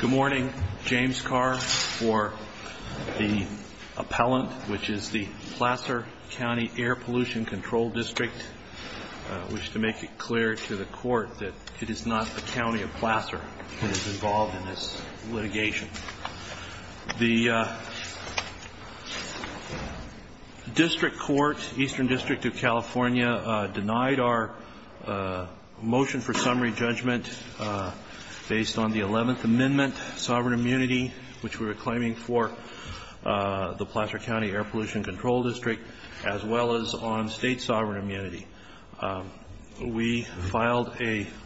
Good morning. James Carr for the appellant, which is the Placer County Air Pollution Control District. I wish to make it clear to the court that it is not the county of Placer that is involved in this litigation. The District Court, Eastern District of California, denied our motion for summary judgment based on the 11th Amendment, sovereign immunity, which we were claiming for the Placer County Air Pollution Control District, as well as on state sovereign immunity. We filed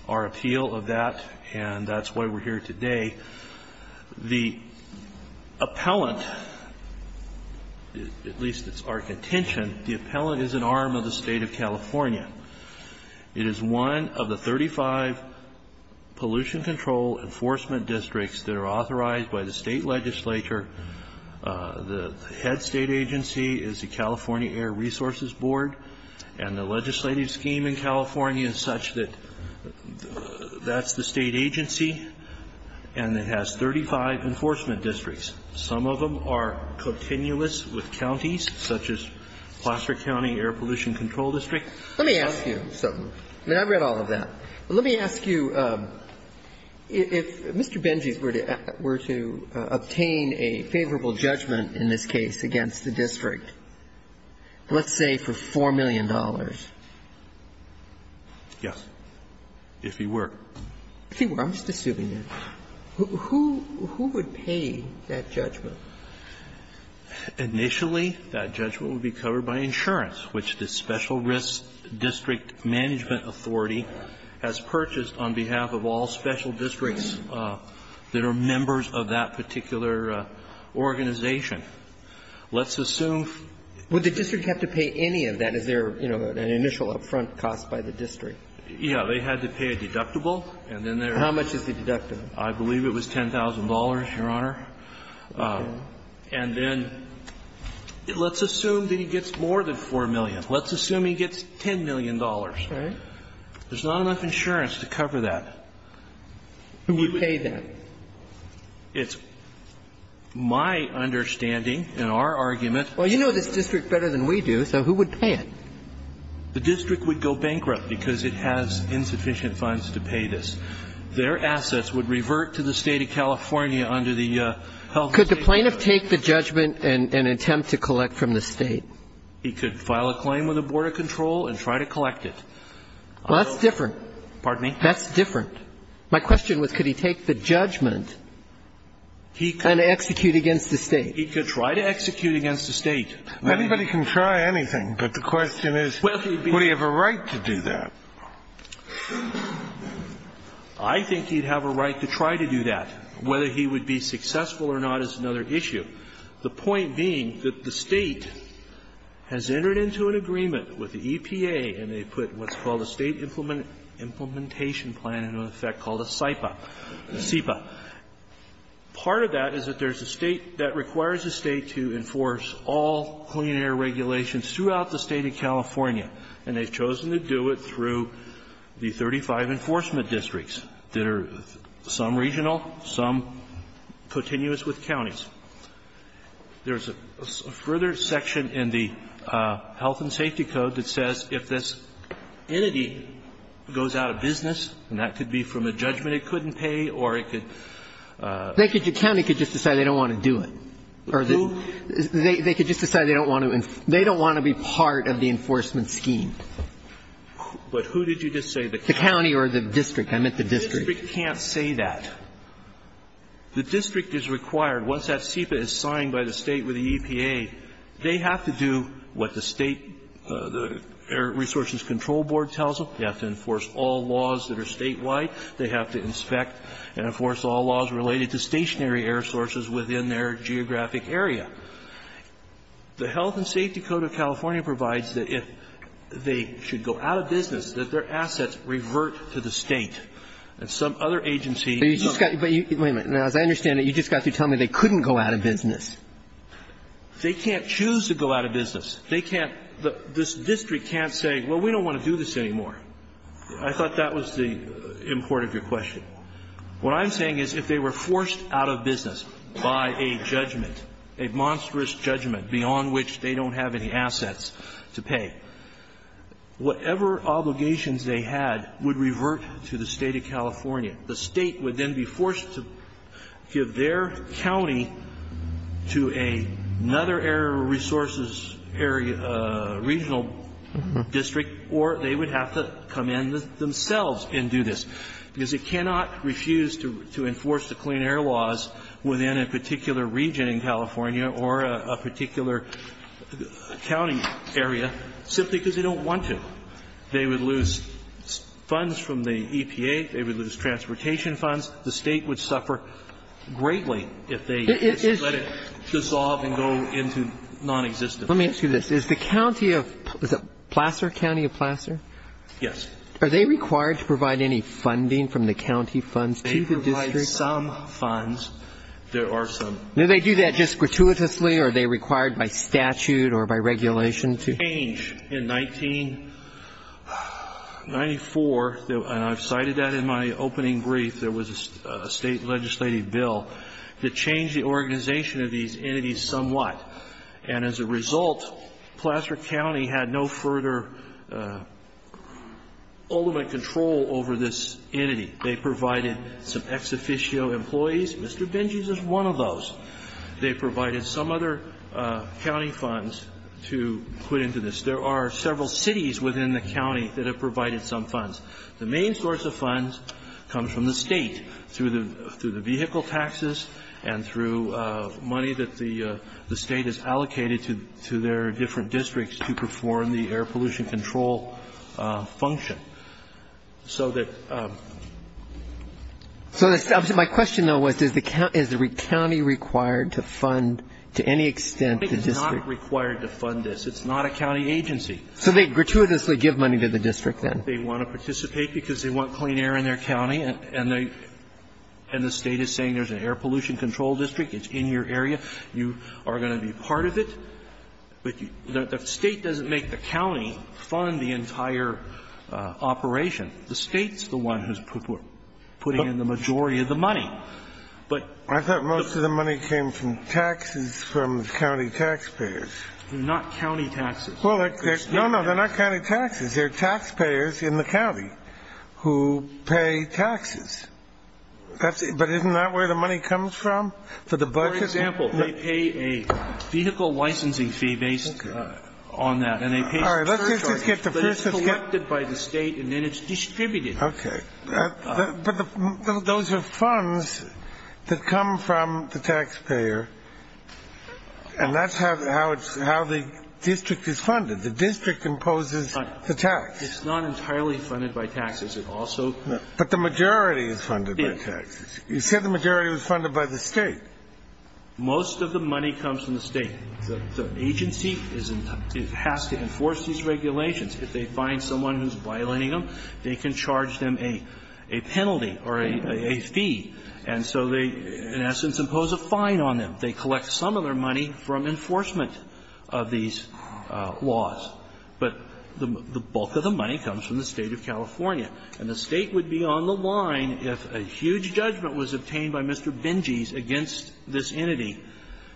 our appeal of that, and that's why we're here today. The appellant, at least it's our contention, the appellant is an arm of the State of California. It is one of the 35 pollution control enforcement districts that are authorized by the State legislature. The head State agency is the California Air Resources Board, and the legislative scheme in California is such that that's the State agency, and it has 35 enforcement districts. Some of them are continuous with counties, such as Placer County Air Pollution Control District. Let me ask you something. I mean, I've read all of that. Let me ask you, if Mr. Beentjess were to obtain a favorable judgment in this case against the district, let's say for $4 million. Yes, if he were. If he were. I'm just assuming that. Who would pay that judgment? Initially, that judgment would be covered by insurance, which the Special Risk District Management Authority has purchased on behalf of all special districts that are members of that particular organization. Let's assume. Would the district have to pay any of that? Is there, you know, an initial upfront cost by the district? Yeah. They had to pay a deductible, and then there was. How much is the deductible? I believe it was $10,000, Your Honor. And then let's assume that he gets more than $4 million. Let's assume he gets $10 million. Right. There's not enough insurance to cover that. Who would pay that? It's my understanding in our argument. Well, you know this district better than we do, so who would pay it? The district would go bankrupt because it has insufficient funds to pay this. What about the district attorney? would go bankrupt because their assets would revert to the State of California under the Health and Safety Act. Could the plaintiff take the judgment and attempt to collect from the State? He could file a claim with the Board of Control and try to collect it. Well, that's different. Pardon me? That's different. My question was, could he take the judgment and execute against the State? Anybody can try anything, but the question is, would he have a right to do that? I think he'd have a right to try to do that. Whether he would be successful or not is another issue. The point being that the State has entered into an agreement with the EPA, and they put what's called a State implementation plan into effect called a SIPA. Part of that is that there's a State that requires a State to enforce all clean air regulations throughout the State of California, and they've chosen to do it through the 35 enforcement districts that are some regional, some continuous with counties. There's a further section in the Health and Safety Code that says if this entity goes out of business, and that could be from a judgment it couldn't take, that the State has to pay, or it could be from a judgment it couldn't pay, or it could The county could just decide they don't want to do it. Or they could just decide they don't want to be part of the enforcement scheme. But who did you just say? The county or the district. I meant the district. The district can't say that. The district is required, once that SIPA is signed by the State with the EPA, they have to do what the State Air Resources Control Board tells them. They have to enforce all laws that are statewide. They have to inspect and enforce all laws related to stationary air sources within their geographic area. The Health and Safety Code of California provides that if they should go out of business, that their assets revert to the State. And some other agency But you just got to – wait a minute. Now, as I understand it, you just got to tell me they couldn't go out of business. They can't choose to go out of business. They can't – this district can't say, well, we don't want to do this anymore. I thought that was the import of your question. What I'm saying is if they were forced out of business by a judgment, a monstrous judgment beyond which they don't have any assets to pay, whatever obligations they had would revert to the State of California. The State would then be forced to give their county to another air resources area, regional district, or they would have to come in themselves and do this. Because they cannot refuse to enforce the clean air laws within a particular region in California or a particular county area simply because they don't want to. They would lose funds from the EPA. They would lose transportation funds. The State would suffer greatly if they just let it dissolve and go into nonexistence. Let me ask you this. Is the county of – is it Placer? County of Placer? Yes. Are they required to provide any funding from the county funds to the district? They provide some funds. There are some. Do they do that just gratuitously or are they required by statute or by regulation to change in 1994, and I've cited that in my opening brief, there was a State legislative bill to change the organization of these entities somewhat. And as a result, Placer County had no further ultimate control over this entity. They provided some ex officio employees. Mr. Benjes is one of those. They provided some other county funds to put into this. There are several cities within the county that have provided some funds. The main source of funds comes from the State, through the vehicle taxes and through money that the State has allocated to their different districts to perform the air pollution control function. So that – So my question, though, was does the county – is the county required to fund to any extent the district? I think it's not required to fund this. It's not a county agency. So they gratuitously give money to the district, then? They want to participate because they want clean air in their county, and the State is saying there's an air pollution control district, it's in your area, you are going to be part of it. But the State doesn't make the county fund the entire operation. The State's the one who's putting in the majority of the money. But the – I thought most of the money came from taxes from the county taxpayers. They're not county taxes. Well, they're – no, no, they're not county taxes. They're taxpayers in the county who pay taxes. That's – but isn't that where the money comes from, for the budget? For example, they pay a vehicle licensing fee based on that, and they pay – All right. Let's just get the first – But it's collected by the State, and then it's distributed. Okay. But those are funds that come from the taxpayer, and that's how it's – how the district is funded. The district imposes the tax. It's not entirely funded by taxes. It also – But the majority is funded by taxes. You said the majority was funded by the State. Most of the money comes from the State. The agency is – it has to enforce these regulations. If they find someone who's violating them, they can charge them a penalty or a fee. And so they, in essence, impose a fine on them. They collect some of their money from enforcement of these laws. But the bulk of the money comes from the State of California. And the State would be on the line if a huge judgment was obtained by Mr. Benjies against this entity,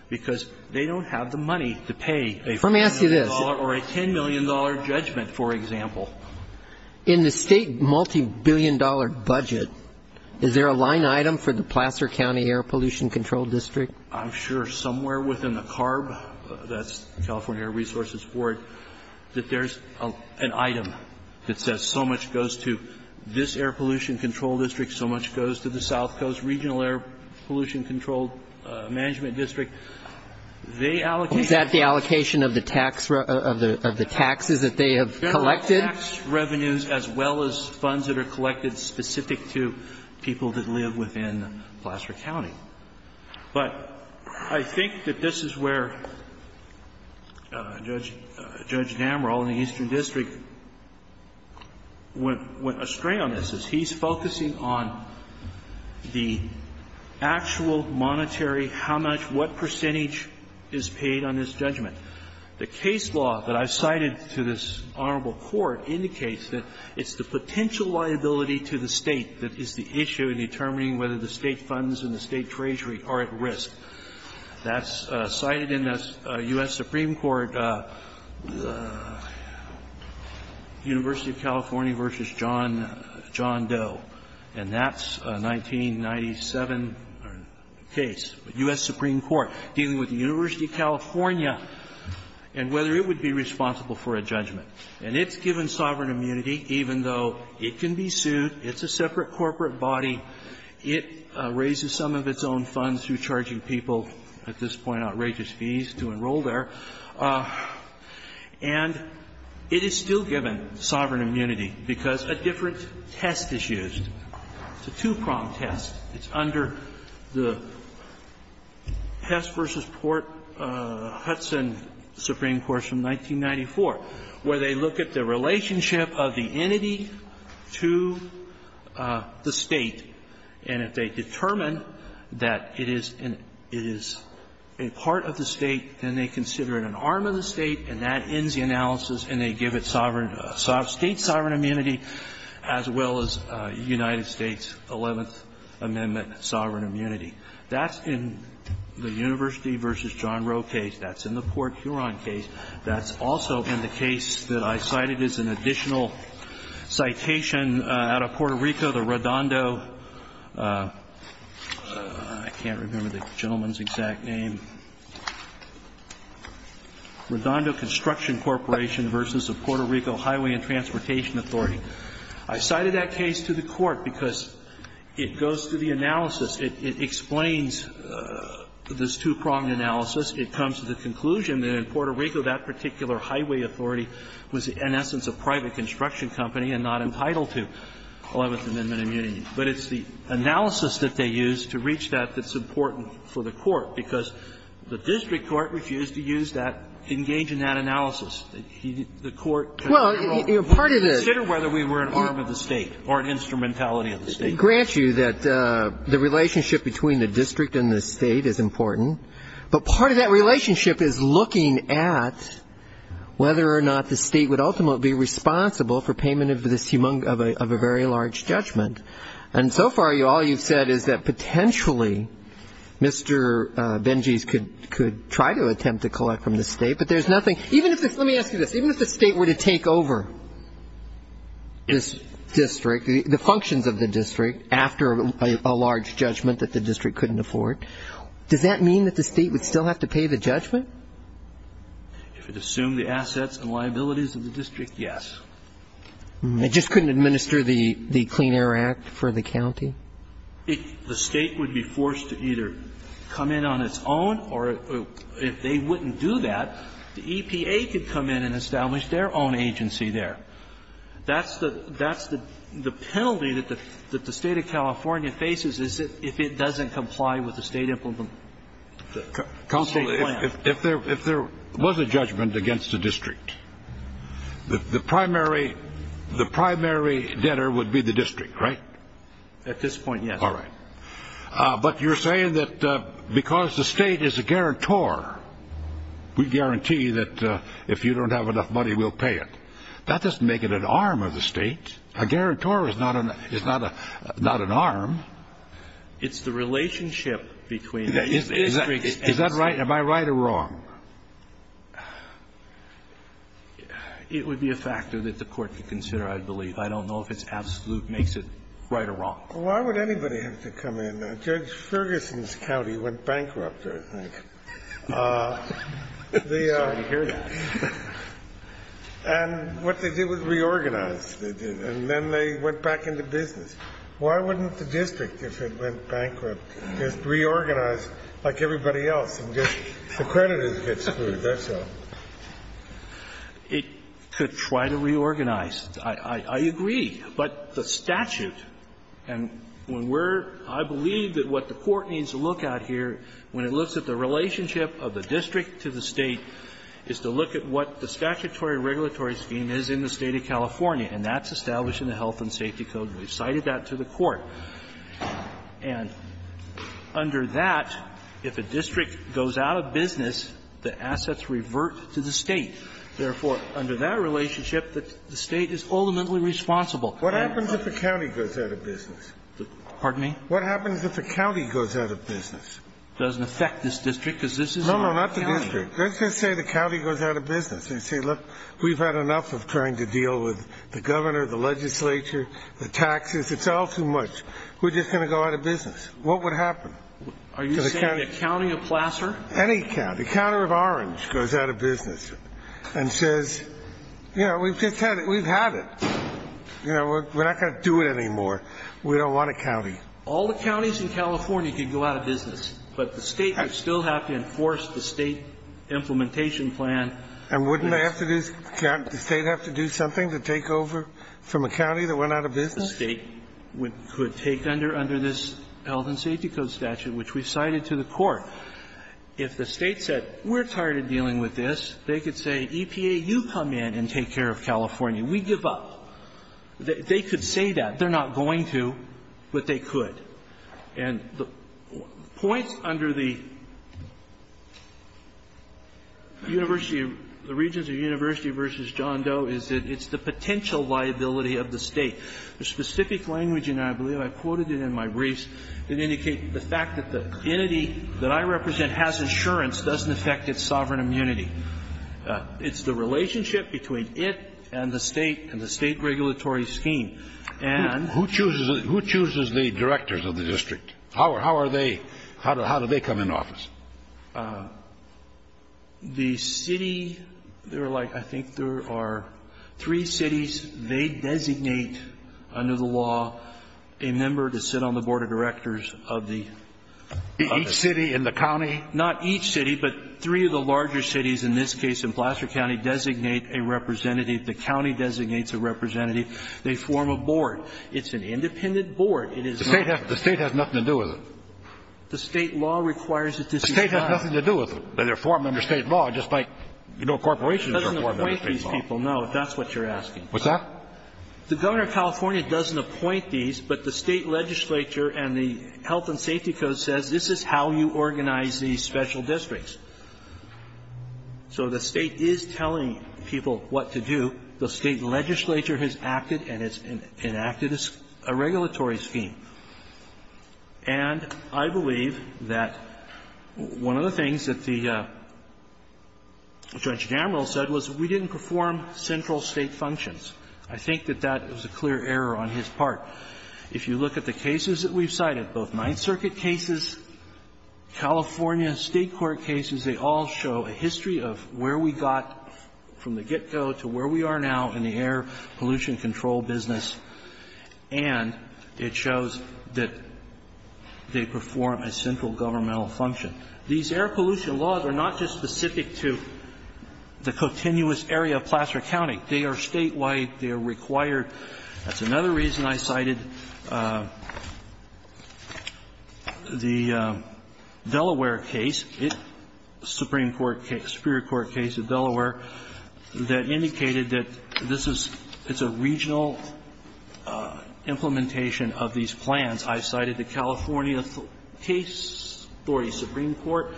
because they don't have the money to pay a $5 million or a $10 million judgment, for example. In the State multibillion-dollar budget, is there a line item for the Placer County Air Pollution Control District? I'm sure somewhere within the CARB – that's the California Air Resources Board – that there's an item that says so much goes to this air pollution control district, so much goes to the South Coast Regional Air Pollution Control Management District. They allocate – Is that the allocation of the tax – of the taxes that they have collected? There are tax revenues as well as funds that are collected specific to people that live within Placer County. But I think that this is where Judge Namrall in the Eastern District went astray on this, is he's focusing on the actual monetary how much – what percentage is paid on this judgment. The case law that I've cited to this Honorable Court indicates that it's the potential liability to the State that is the issue in determining whether the State funds and the State treasury are at risk. That's cited in the U.S. Supreme Court, University of California v. John Doe. And that's a 1997 case, U.S. Supreme Court, dealing with the University of California and whether it would be responsible for a judgment. And it's given sovereign immunity, even though it can be sued. It's a separate corporate body. It raises some of its own funds through charging people, at this point, outrageous fees to enroll there. And it is still given sovereign immunity because a different test is used. It's a two-prong test. It's under the Hess v. Port Hudson Supreme Court from 1994, where they look at the relationship of the entity to the State. And if they determine that it is a part of the State, then they consider it an arm of the State, and that ends the analysis, and they give it state sovereign immunity as well as United States' Eleventh Amendment sovereign immunity. That's in the University v. John Roe case. That's in the Port Huron case. That's also in the case that I cited as an additional citation out of Puerto Rico, the Redondo – I can't remember the gentleman's exact name – Redondo Construction Corporation v. the Puerto Rico Highway and Transportation Authority. I cited that case to the Court because it goes through the analysis. It explains this two-pronged analysis. It comes to the conclusion that in Puerto Rico, that particular highway authority was, in essence, a private construction company and not entitled to Eleventh Amendment immunity. But it's the analysis that they use to reach that that's important for the Court, because the district court refused to use that, engage in that analysis. The Court can't control it. Consider whether we were an arm of the State or an instrumentality of the State. It grants you that the relationship between the district and the State is important, but part of that relationship is looking at whether or not the State would ultimately be responsible for payment of this – of a very large judgment. And so far, all you've said is that potentially Mr. Benjies could try to attempt to collect from the State, but there's nothing – even if – let me ask you this. Even if the State were to take over this district, the functions of the district, after a large judgment that the district couldn't afford, does that mean that the State would still have to pay the judgment? If it assumed the assets and liabilities of the district, yes. It just couldn't administer the Clean Air Act for the county? If the State would be forced to either come in on its own, or if they wouldn't do that, the EPA could come in and establish their own agency there. That's the – that's the penalty that the State of California faces is if it doesn't comply with the State implementation. Counsel, if there was a judgment against the district, the primary – the primary debtor would be the district, right? At this point, yes. All right. But you're saying that because the State is a guarantor, we guarantee that if you don't have enough money, we'll pay it. That doesn't make it an arm of the State. A guarantor is not an arm. It's the relationship between the district and the State. Is that right? Am I right or wrong? It would be a factor that the Court could consider, I believe. I don't know if it's absolute, makes it right or wrong. Why would anybody have to come in? Judge Ferguson's county went bankrupt, I think. I'm sorry to hear that. And what they did was reorganize. They did. And then they went back into business. Why wouldn't the district, if it went bankrupt, just reorganize like everybody else and just the creditors get screwed? That's all. It could try to reorganize. I agree. But the statute, and when we're – I believe that what the Court needs to look at here when it looks at the relationship of the district to the State is to look at what the statutory regulatory scheme is in the State of California. And that's established in the Health and Safety Code. And we've cited that to the Court. And under that, if a district goes out of business, the assets revert to the State. Therefore, under that relationship, the State is ultimately responsible. What happens if the county goes out of business? Pardon me? What happens if the county goes out of business? It doesn't affect this district, because this is a county. No, no, not the district. Let's just say the county goes out of business. They say, look, we've had enough of trying to deal with the governor, the legislature, the taxes, it's all too much. We're just going to go out of business. What would happen? Are you saying a county of Placer? Any county. The county of Orange goes out of business and says, you know, we've just had it. We've had it. You know, we're not going to do it anymore. We don't want a county. All the counties in California could go out of business, but the State would still have to enforce the State implementation plan. And wouldn't they have to do – the State have to do something to take over from a county that went out of business? The State could take under this Health and Safety Code statute, which we cited to the Court. If the State said, we're tired of dealing with this, they could say, EPA, you come in and take care of California. We give up. They could say that. They're not going to, but they could. And the points under the University of – the Regents of the University v. John Doe is that it's the potential liability of the State. The specific language in there – I believe I quoted it in my briefs – it indicates the fact that the entity that I represent has insurance doesn't affect its sovereign immunity. It's the relationship between it and the State and the State regulatory scheme. And – Who chooses – who chooses the directors of the district? How are they – how do they come into office? The City – they're like – I think there are three cities. They designate, under the law, a member to sit on the board of directors of the – Each city in the county? Not each city, but three of the larger cities, in this case in Placer County, designate a representative. The county designates a representative. They form a board. It's an independent board. It is not – The State has nothing to do with it. The State law requires that this be done. The State has nothing to do with it. They're formed under State law, just like, you know, corporations are formed under State law. It doesn't appoint these people, no, if that's what you're asking. What's that? The Governor of California doesn't appoint these, but the State legislature and the Health and Safety Code says this is how you organize these special districts. So the State is telling people what to do. The State legislature has acted and has enacted a regulatory scheme. And I believe that one of the things that the Judge Damerill said was we didn't perform central State functions. I think that that was a clear error on his part. If you look at the cases that we've cited, both Ninth Circuit cases, California State court cases, they all show a history of where we got from the get-go to where we are now in the air pollution control business. And it shows that they perform a central governmental function. These air pollution laws are not just specific to the continuous area of Placer County. They are statewide. They are required. That's another reason I cited the Delaware case, Supreme Court case, Superior Implementation of these plans. I cited the California case story, Supreme Court,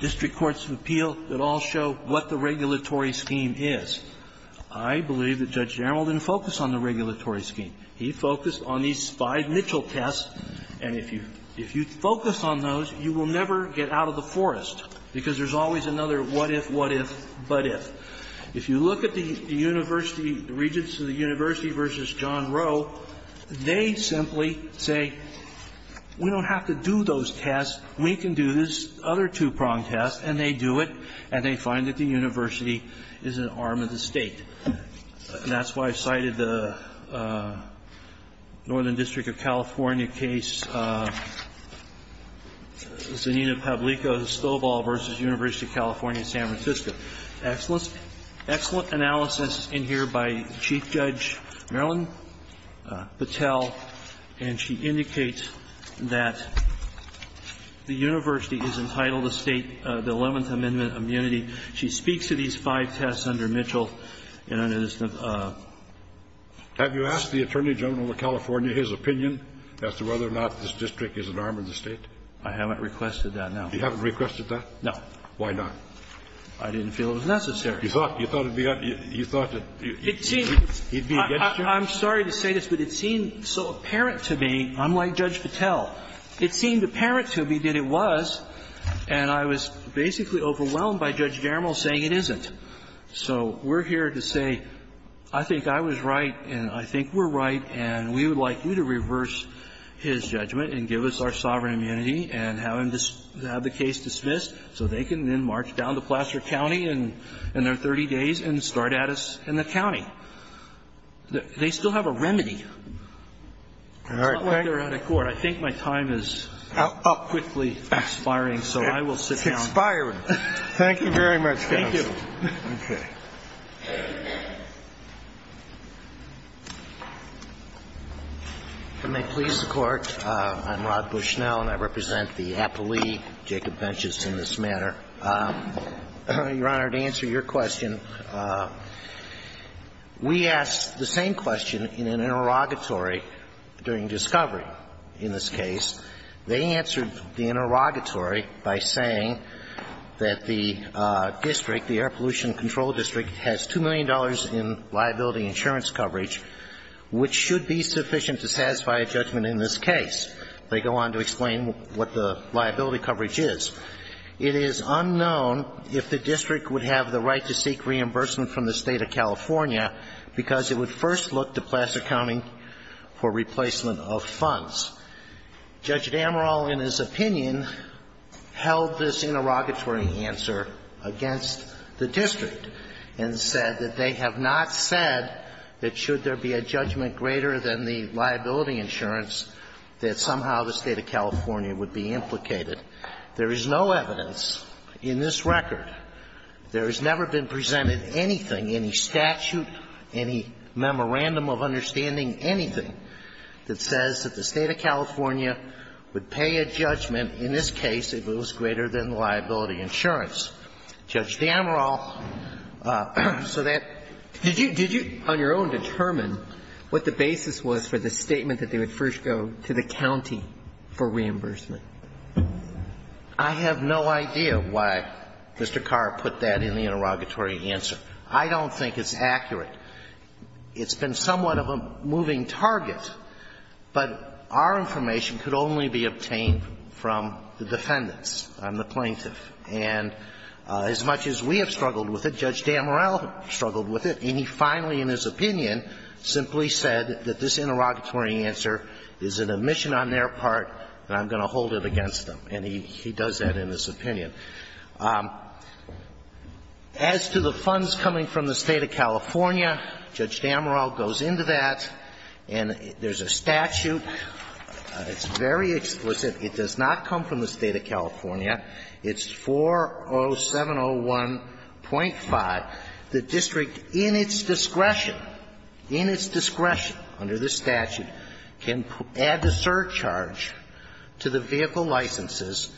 district courts of appeal. It all showed what the regulatory scheme is. I believe that Judge Damerill didn't focus on the regulatory scheme. He focused on these five Mitchell tests. And if you focus on those, you will never get out of the forest, because there's always another what-if, what-if, but-if. If you look at the university, the Regents of the University v. John Rowe, they simply say, we don't have to do those tests. We can do this other two-prong test. And they do it. And they find that the university is an arm of the State. And that's why I cited the Northern District of California case, Zanina Pablico Estobal v. University of California, San Francisco. Excellent analysis in here by Chief Judge Marilyn Patel. And she indicates that the university is entitled to State, the Eleventh Amendment immunity. She speaks to these five tests under Mitchell. And it is the ---- Scalia. Have you asked the Attorney General of California his opinion as to whether or not this district is an arm of the State? Carvin. I haven't requested that, no. Scalia. You haven't requested that? Carvin. No. Why not? Carvin. I didn't feel it was necessary. You thought he'd be against you? I'm sorry to say this, but it seemed so apparent to me, unlike Judge Patel, it seemed apparent to me that it was. And I was basically overwhelmed by Judge Garimal saying it isn't. So we're here to say, I think I was right and I think we're right, and we would like you to reverse his judgment and give us our sovereign immunity and have the case dismissed so they can then march down to Placer County in their 30 days and start at us in the county. They still have a remedy. It's not like they're out of court. I think my time is quickly expiring, so I will sit down. It's expiring. Thank you very much, counsel. Thank you. Okay. If I may please the Court, I'm Rod Bushnell, and I represent the Appley, Jacob Appley Convention in this matter. Your Honor, to answer your question, we asked the same question in an interrogatory during discovery in this case. They answered the interrogatory by saying that the district, the air pollution control district, has $2 million in liability insurance coverage, which should be sufficient to satisfy a judgment in this case. They go on to explain what the liability coverage is. It is unknown if the district would have the right to seek reimbursement from the State of California because it would first look to Placer County for replacement of funds. Judge Damerol, in his opinion, held this interrogatory answer against the district and said that they have not said that should there be a judgment greater than the liability insurance coverage, that somehow the State of California would be implicated. There is no evidence in this record, there has never been presented anything, any statute, any memorandum of understanding, anything that says that the State of California would pay a judgment in this case if it was greater than the liability insurance. Judge Damerol, so that did you on your own determine what the basis was for the statement that they would first go to the county for reimbursement? I have no idea why Mr. Carr put that in the interrogatory answer. I don't think it's accurate. It's been somewhat of a moving target, but our information could only be obtained from the defendants and the plaintiff. And as much as we have struggled with it, Judge Damerol struggled with it, and he finally, in his opinion, simply said that this interrogatory answer is an omission on their part and I'm going to hold it against them. And he does that in his opinion. As to the funds coming from the State of California, Judge Damerol goes into that and there's a statute, it's very explicit, it does not come from the State of California. It's 40701.5. The district, in its discretion, in its discretion under this statute, can add to surcharge to the vehicle licenses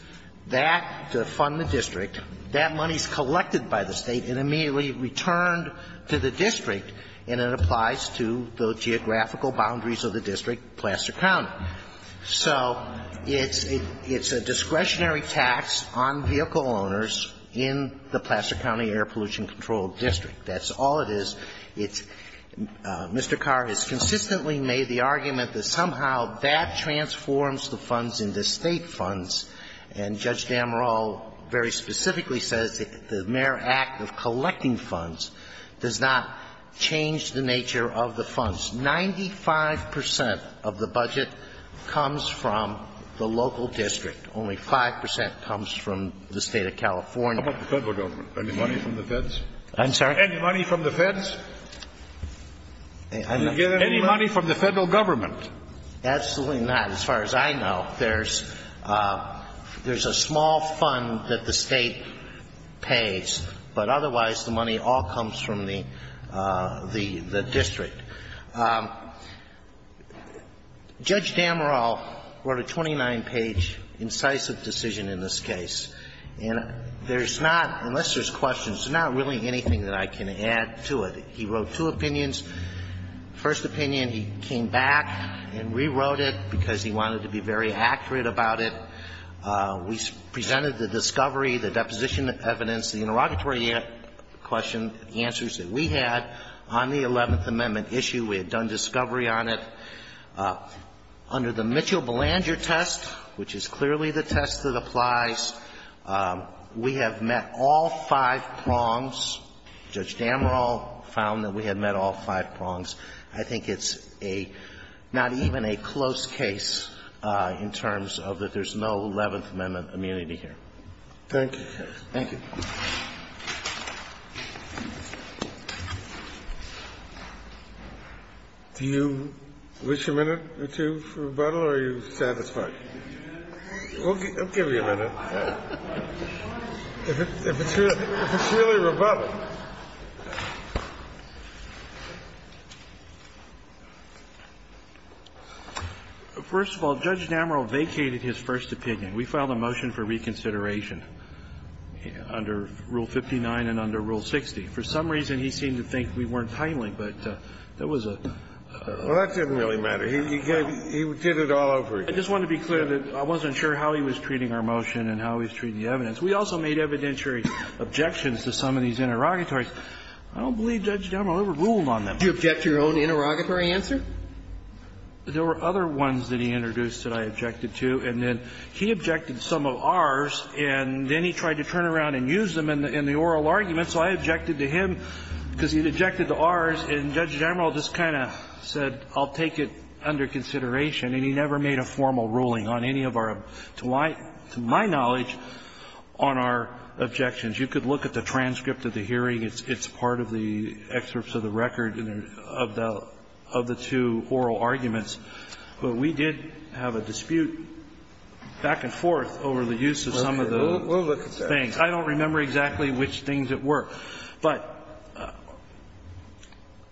that to fund the district, that money is collected by the State and immediately returned to the district, and it applies to the geographical boundaries of the district, Placer County. So it's a discretionary tax on vehicle owners in the Placer County Air Pollution Control District. That's all it is. It's Mr. Carr has consistently made the argument that somehow that transforms the funds into State funds, and Judge Damerol very specifically says the mere act of collecting the funds, 95 percent of the budget comes from the local district. Only 5 percent comes from the State of California. How about the Federal government? Any money from the Feds? I'm sorry? Any money from the Feds? I'm not sure. Any money from the Federal government? Absolutely not. As far as I know, there's a small fund that the State pays, but otherwise, the money all comes from the district. Judge Damerol wrote a 29-page incisive decision in this case. And there's not, unless there's questions, not really anything that I can add to it. He wrote two opinions. First opinion, he came back and rewrote it because he wanted to be very accurate about it. We presented the discovery, the deposition evidence, the interrogatory question, the answers that we had on the Eleventh Amendment issue. We had done discovery on it. Under the Mitchell-Belanger test, which is clearly the test that applies, we have met all five prongs. Judge Damerol found that we had met all five prongs. I think it's a, not even a close case in terms of that there's no Eleventh Amendment immunity here. Thank you. Thank you. Do you wish a minute or two for rebuttal, or are you satisfied? We'll give you a minute. If it's really rebuttal. First of all, Judge Damerol vacated his first opinion. We filed a motion for reconsideration. Under Rule 59 and under Rule 60. For some reason, he seemed to think we weren't timely, but that was a really bad motion. Well, that didn't really matter. He did it all over again. I just want to be clear that I wasn't sure how he was treating our motion and how he was treating the evidence. We also made evidentiary objections to some of these interrogatories. I don't believe Judge Damerol ever ruled on them. Did you object to your own interrogatory answer? There were other ones that he introduced that I objected to, and then he objected to some of ours, and then he tried to turn around and use them in the oral arguments. So I objected to him because he objected to ours, and Judge Damerol just kind of said I'll take it under consideration. And he never made a formal ruling on any of our, to my knowledge, on our objections. You could look at the transcript of the hearing. It's part of the excerpts of the record of the two oral arguments. But we did have a dispute back and forth over the use of some of the things. I don't remember exactly which things it were. But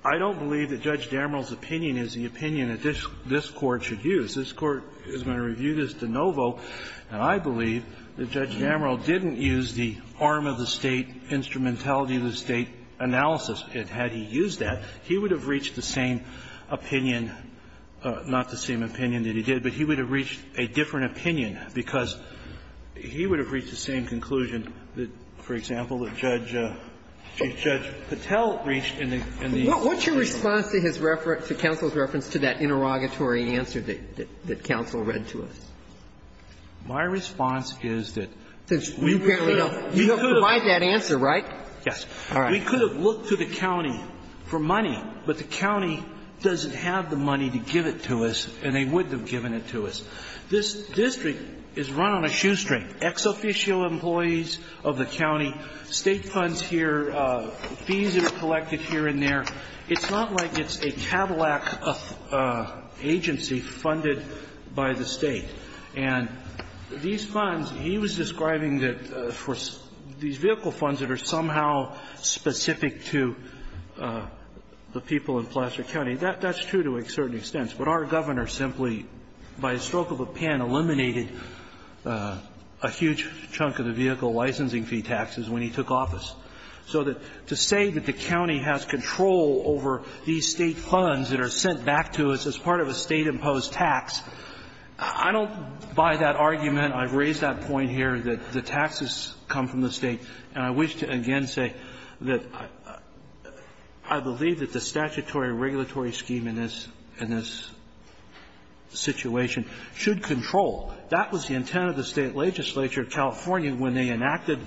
I don't believe that Judge Damerol's opinion is the opinion that this Court should use. This Court is going to review this de novo, and I believe that Judge Damerol didn't use the arm of the State, instrumentality of the State analysis. And had he used that, he would have reached the same opinion, not the same opinion that he did, but he would have reached a different opinion, because he would have reached the same conclusion that, for example, that Judge Patel reached in the oral argument. Sotomayor What's your response to his reference, to counsel's reference to that interrogatory answer that counsel read to us? Verrilli, My response is that we could have looked to the counsel's answer, and I think to look to the county for money, but the county doesn't have the money to give it to us and they wouldn't have given it to us. This district is run on a shoestring. Ex officio employees of the county, State funds here, fees that are collected here and there, it's not like it's a Cadillac agency funded by the State. And these funds, he was describing that for these vehicle funds that are somehow specific to the people in Placer County, that's true to a certain extent. But our governor simply, by a stroke of a pen, eliminated a huge chunk of the vehicle licensing fee taxes when he took office. So that to say that the county has control over these State funds that are sent back to us as part of a State-imposed tax, I don't buy that argument. I've raised that point here, that the taxes come from the State, and I wish to again say that I believe that the statutory regulatory scheme in this situation should control. That was the intent of the State legislature of California when they enacted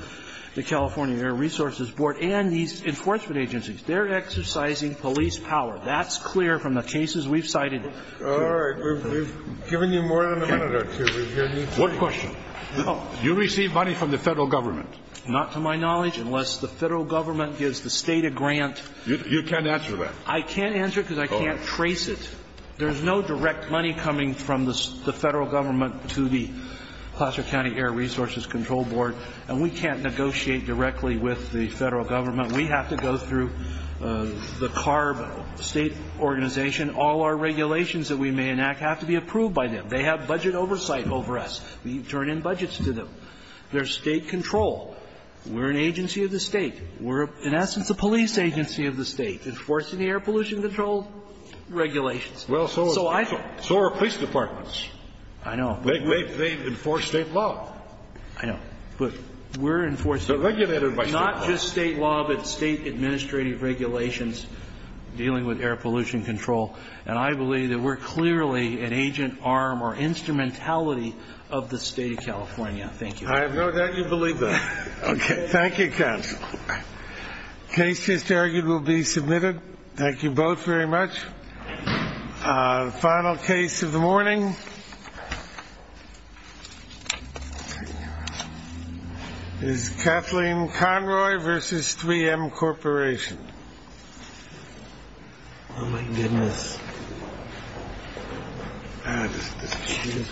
the California Air Resources Board and these enforcement agencies. They're exercising police power. That's clear from the cases we've cited. Scalia. All right. We've given you more than a minute or two. We've given you too much. What question? You receive money from the Federal government. Not to my knowledge, unless the Federal government gives the State a grant. You can't answer that. I can't answer it because I can't trace it. There's no direct money coming from the Federal government to the Placer County Air Resources Control Board, and we can't negotiate directly with the Federal government. We have to go through the CARB State Organization. All our regulations that we may enact have to be approved by them. They have budget oversight over us. We turn in budgets to them. They're State-controlled. We're an agency of the State. We're, in essence, a police agency of the State, enforcing the air pollution control regulations. Well, so are police departments. I know. I know, but we're enforcing not just State law, but State regulations. State administrative regulations dealing with air pollution control, and I believe that we're clearly an agent, arm, or instrumentality of the State of California. Thank you. I have no doubt you believe that. Okay. Thank you, Counsel. Case just argued will be submitted. Thank you both very much. Final case of the morning is Kathleen Conroy versus 3M Corporation. Oh, my goodness. Ah, this machine is heavy.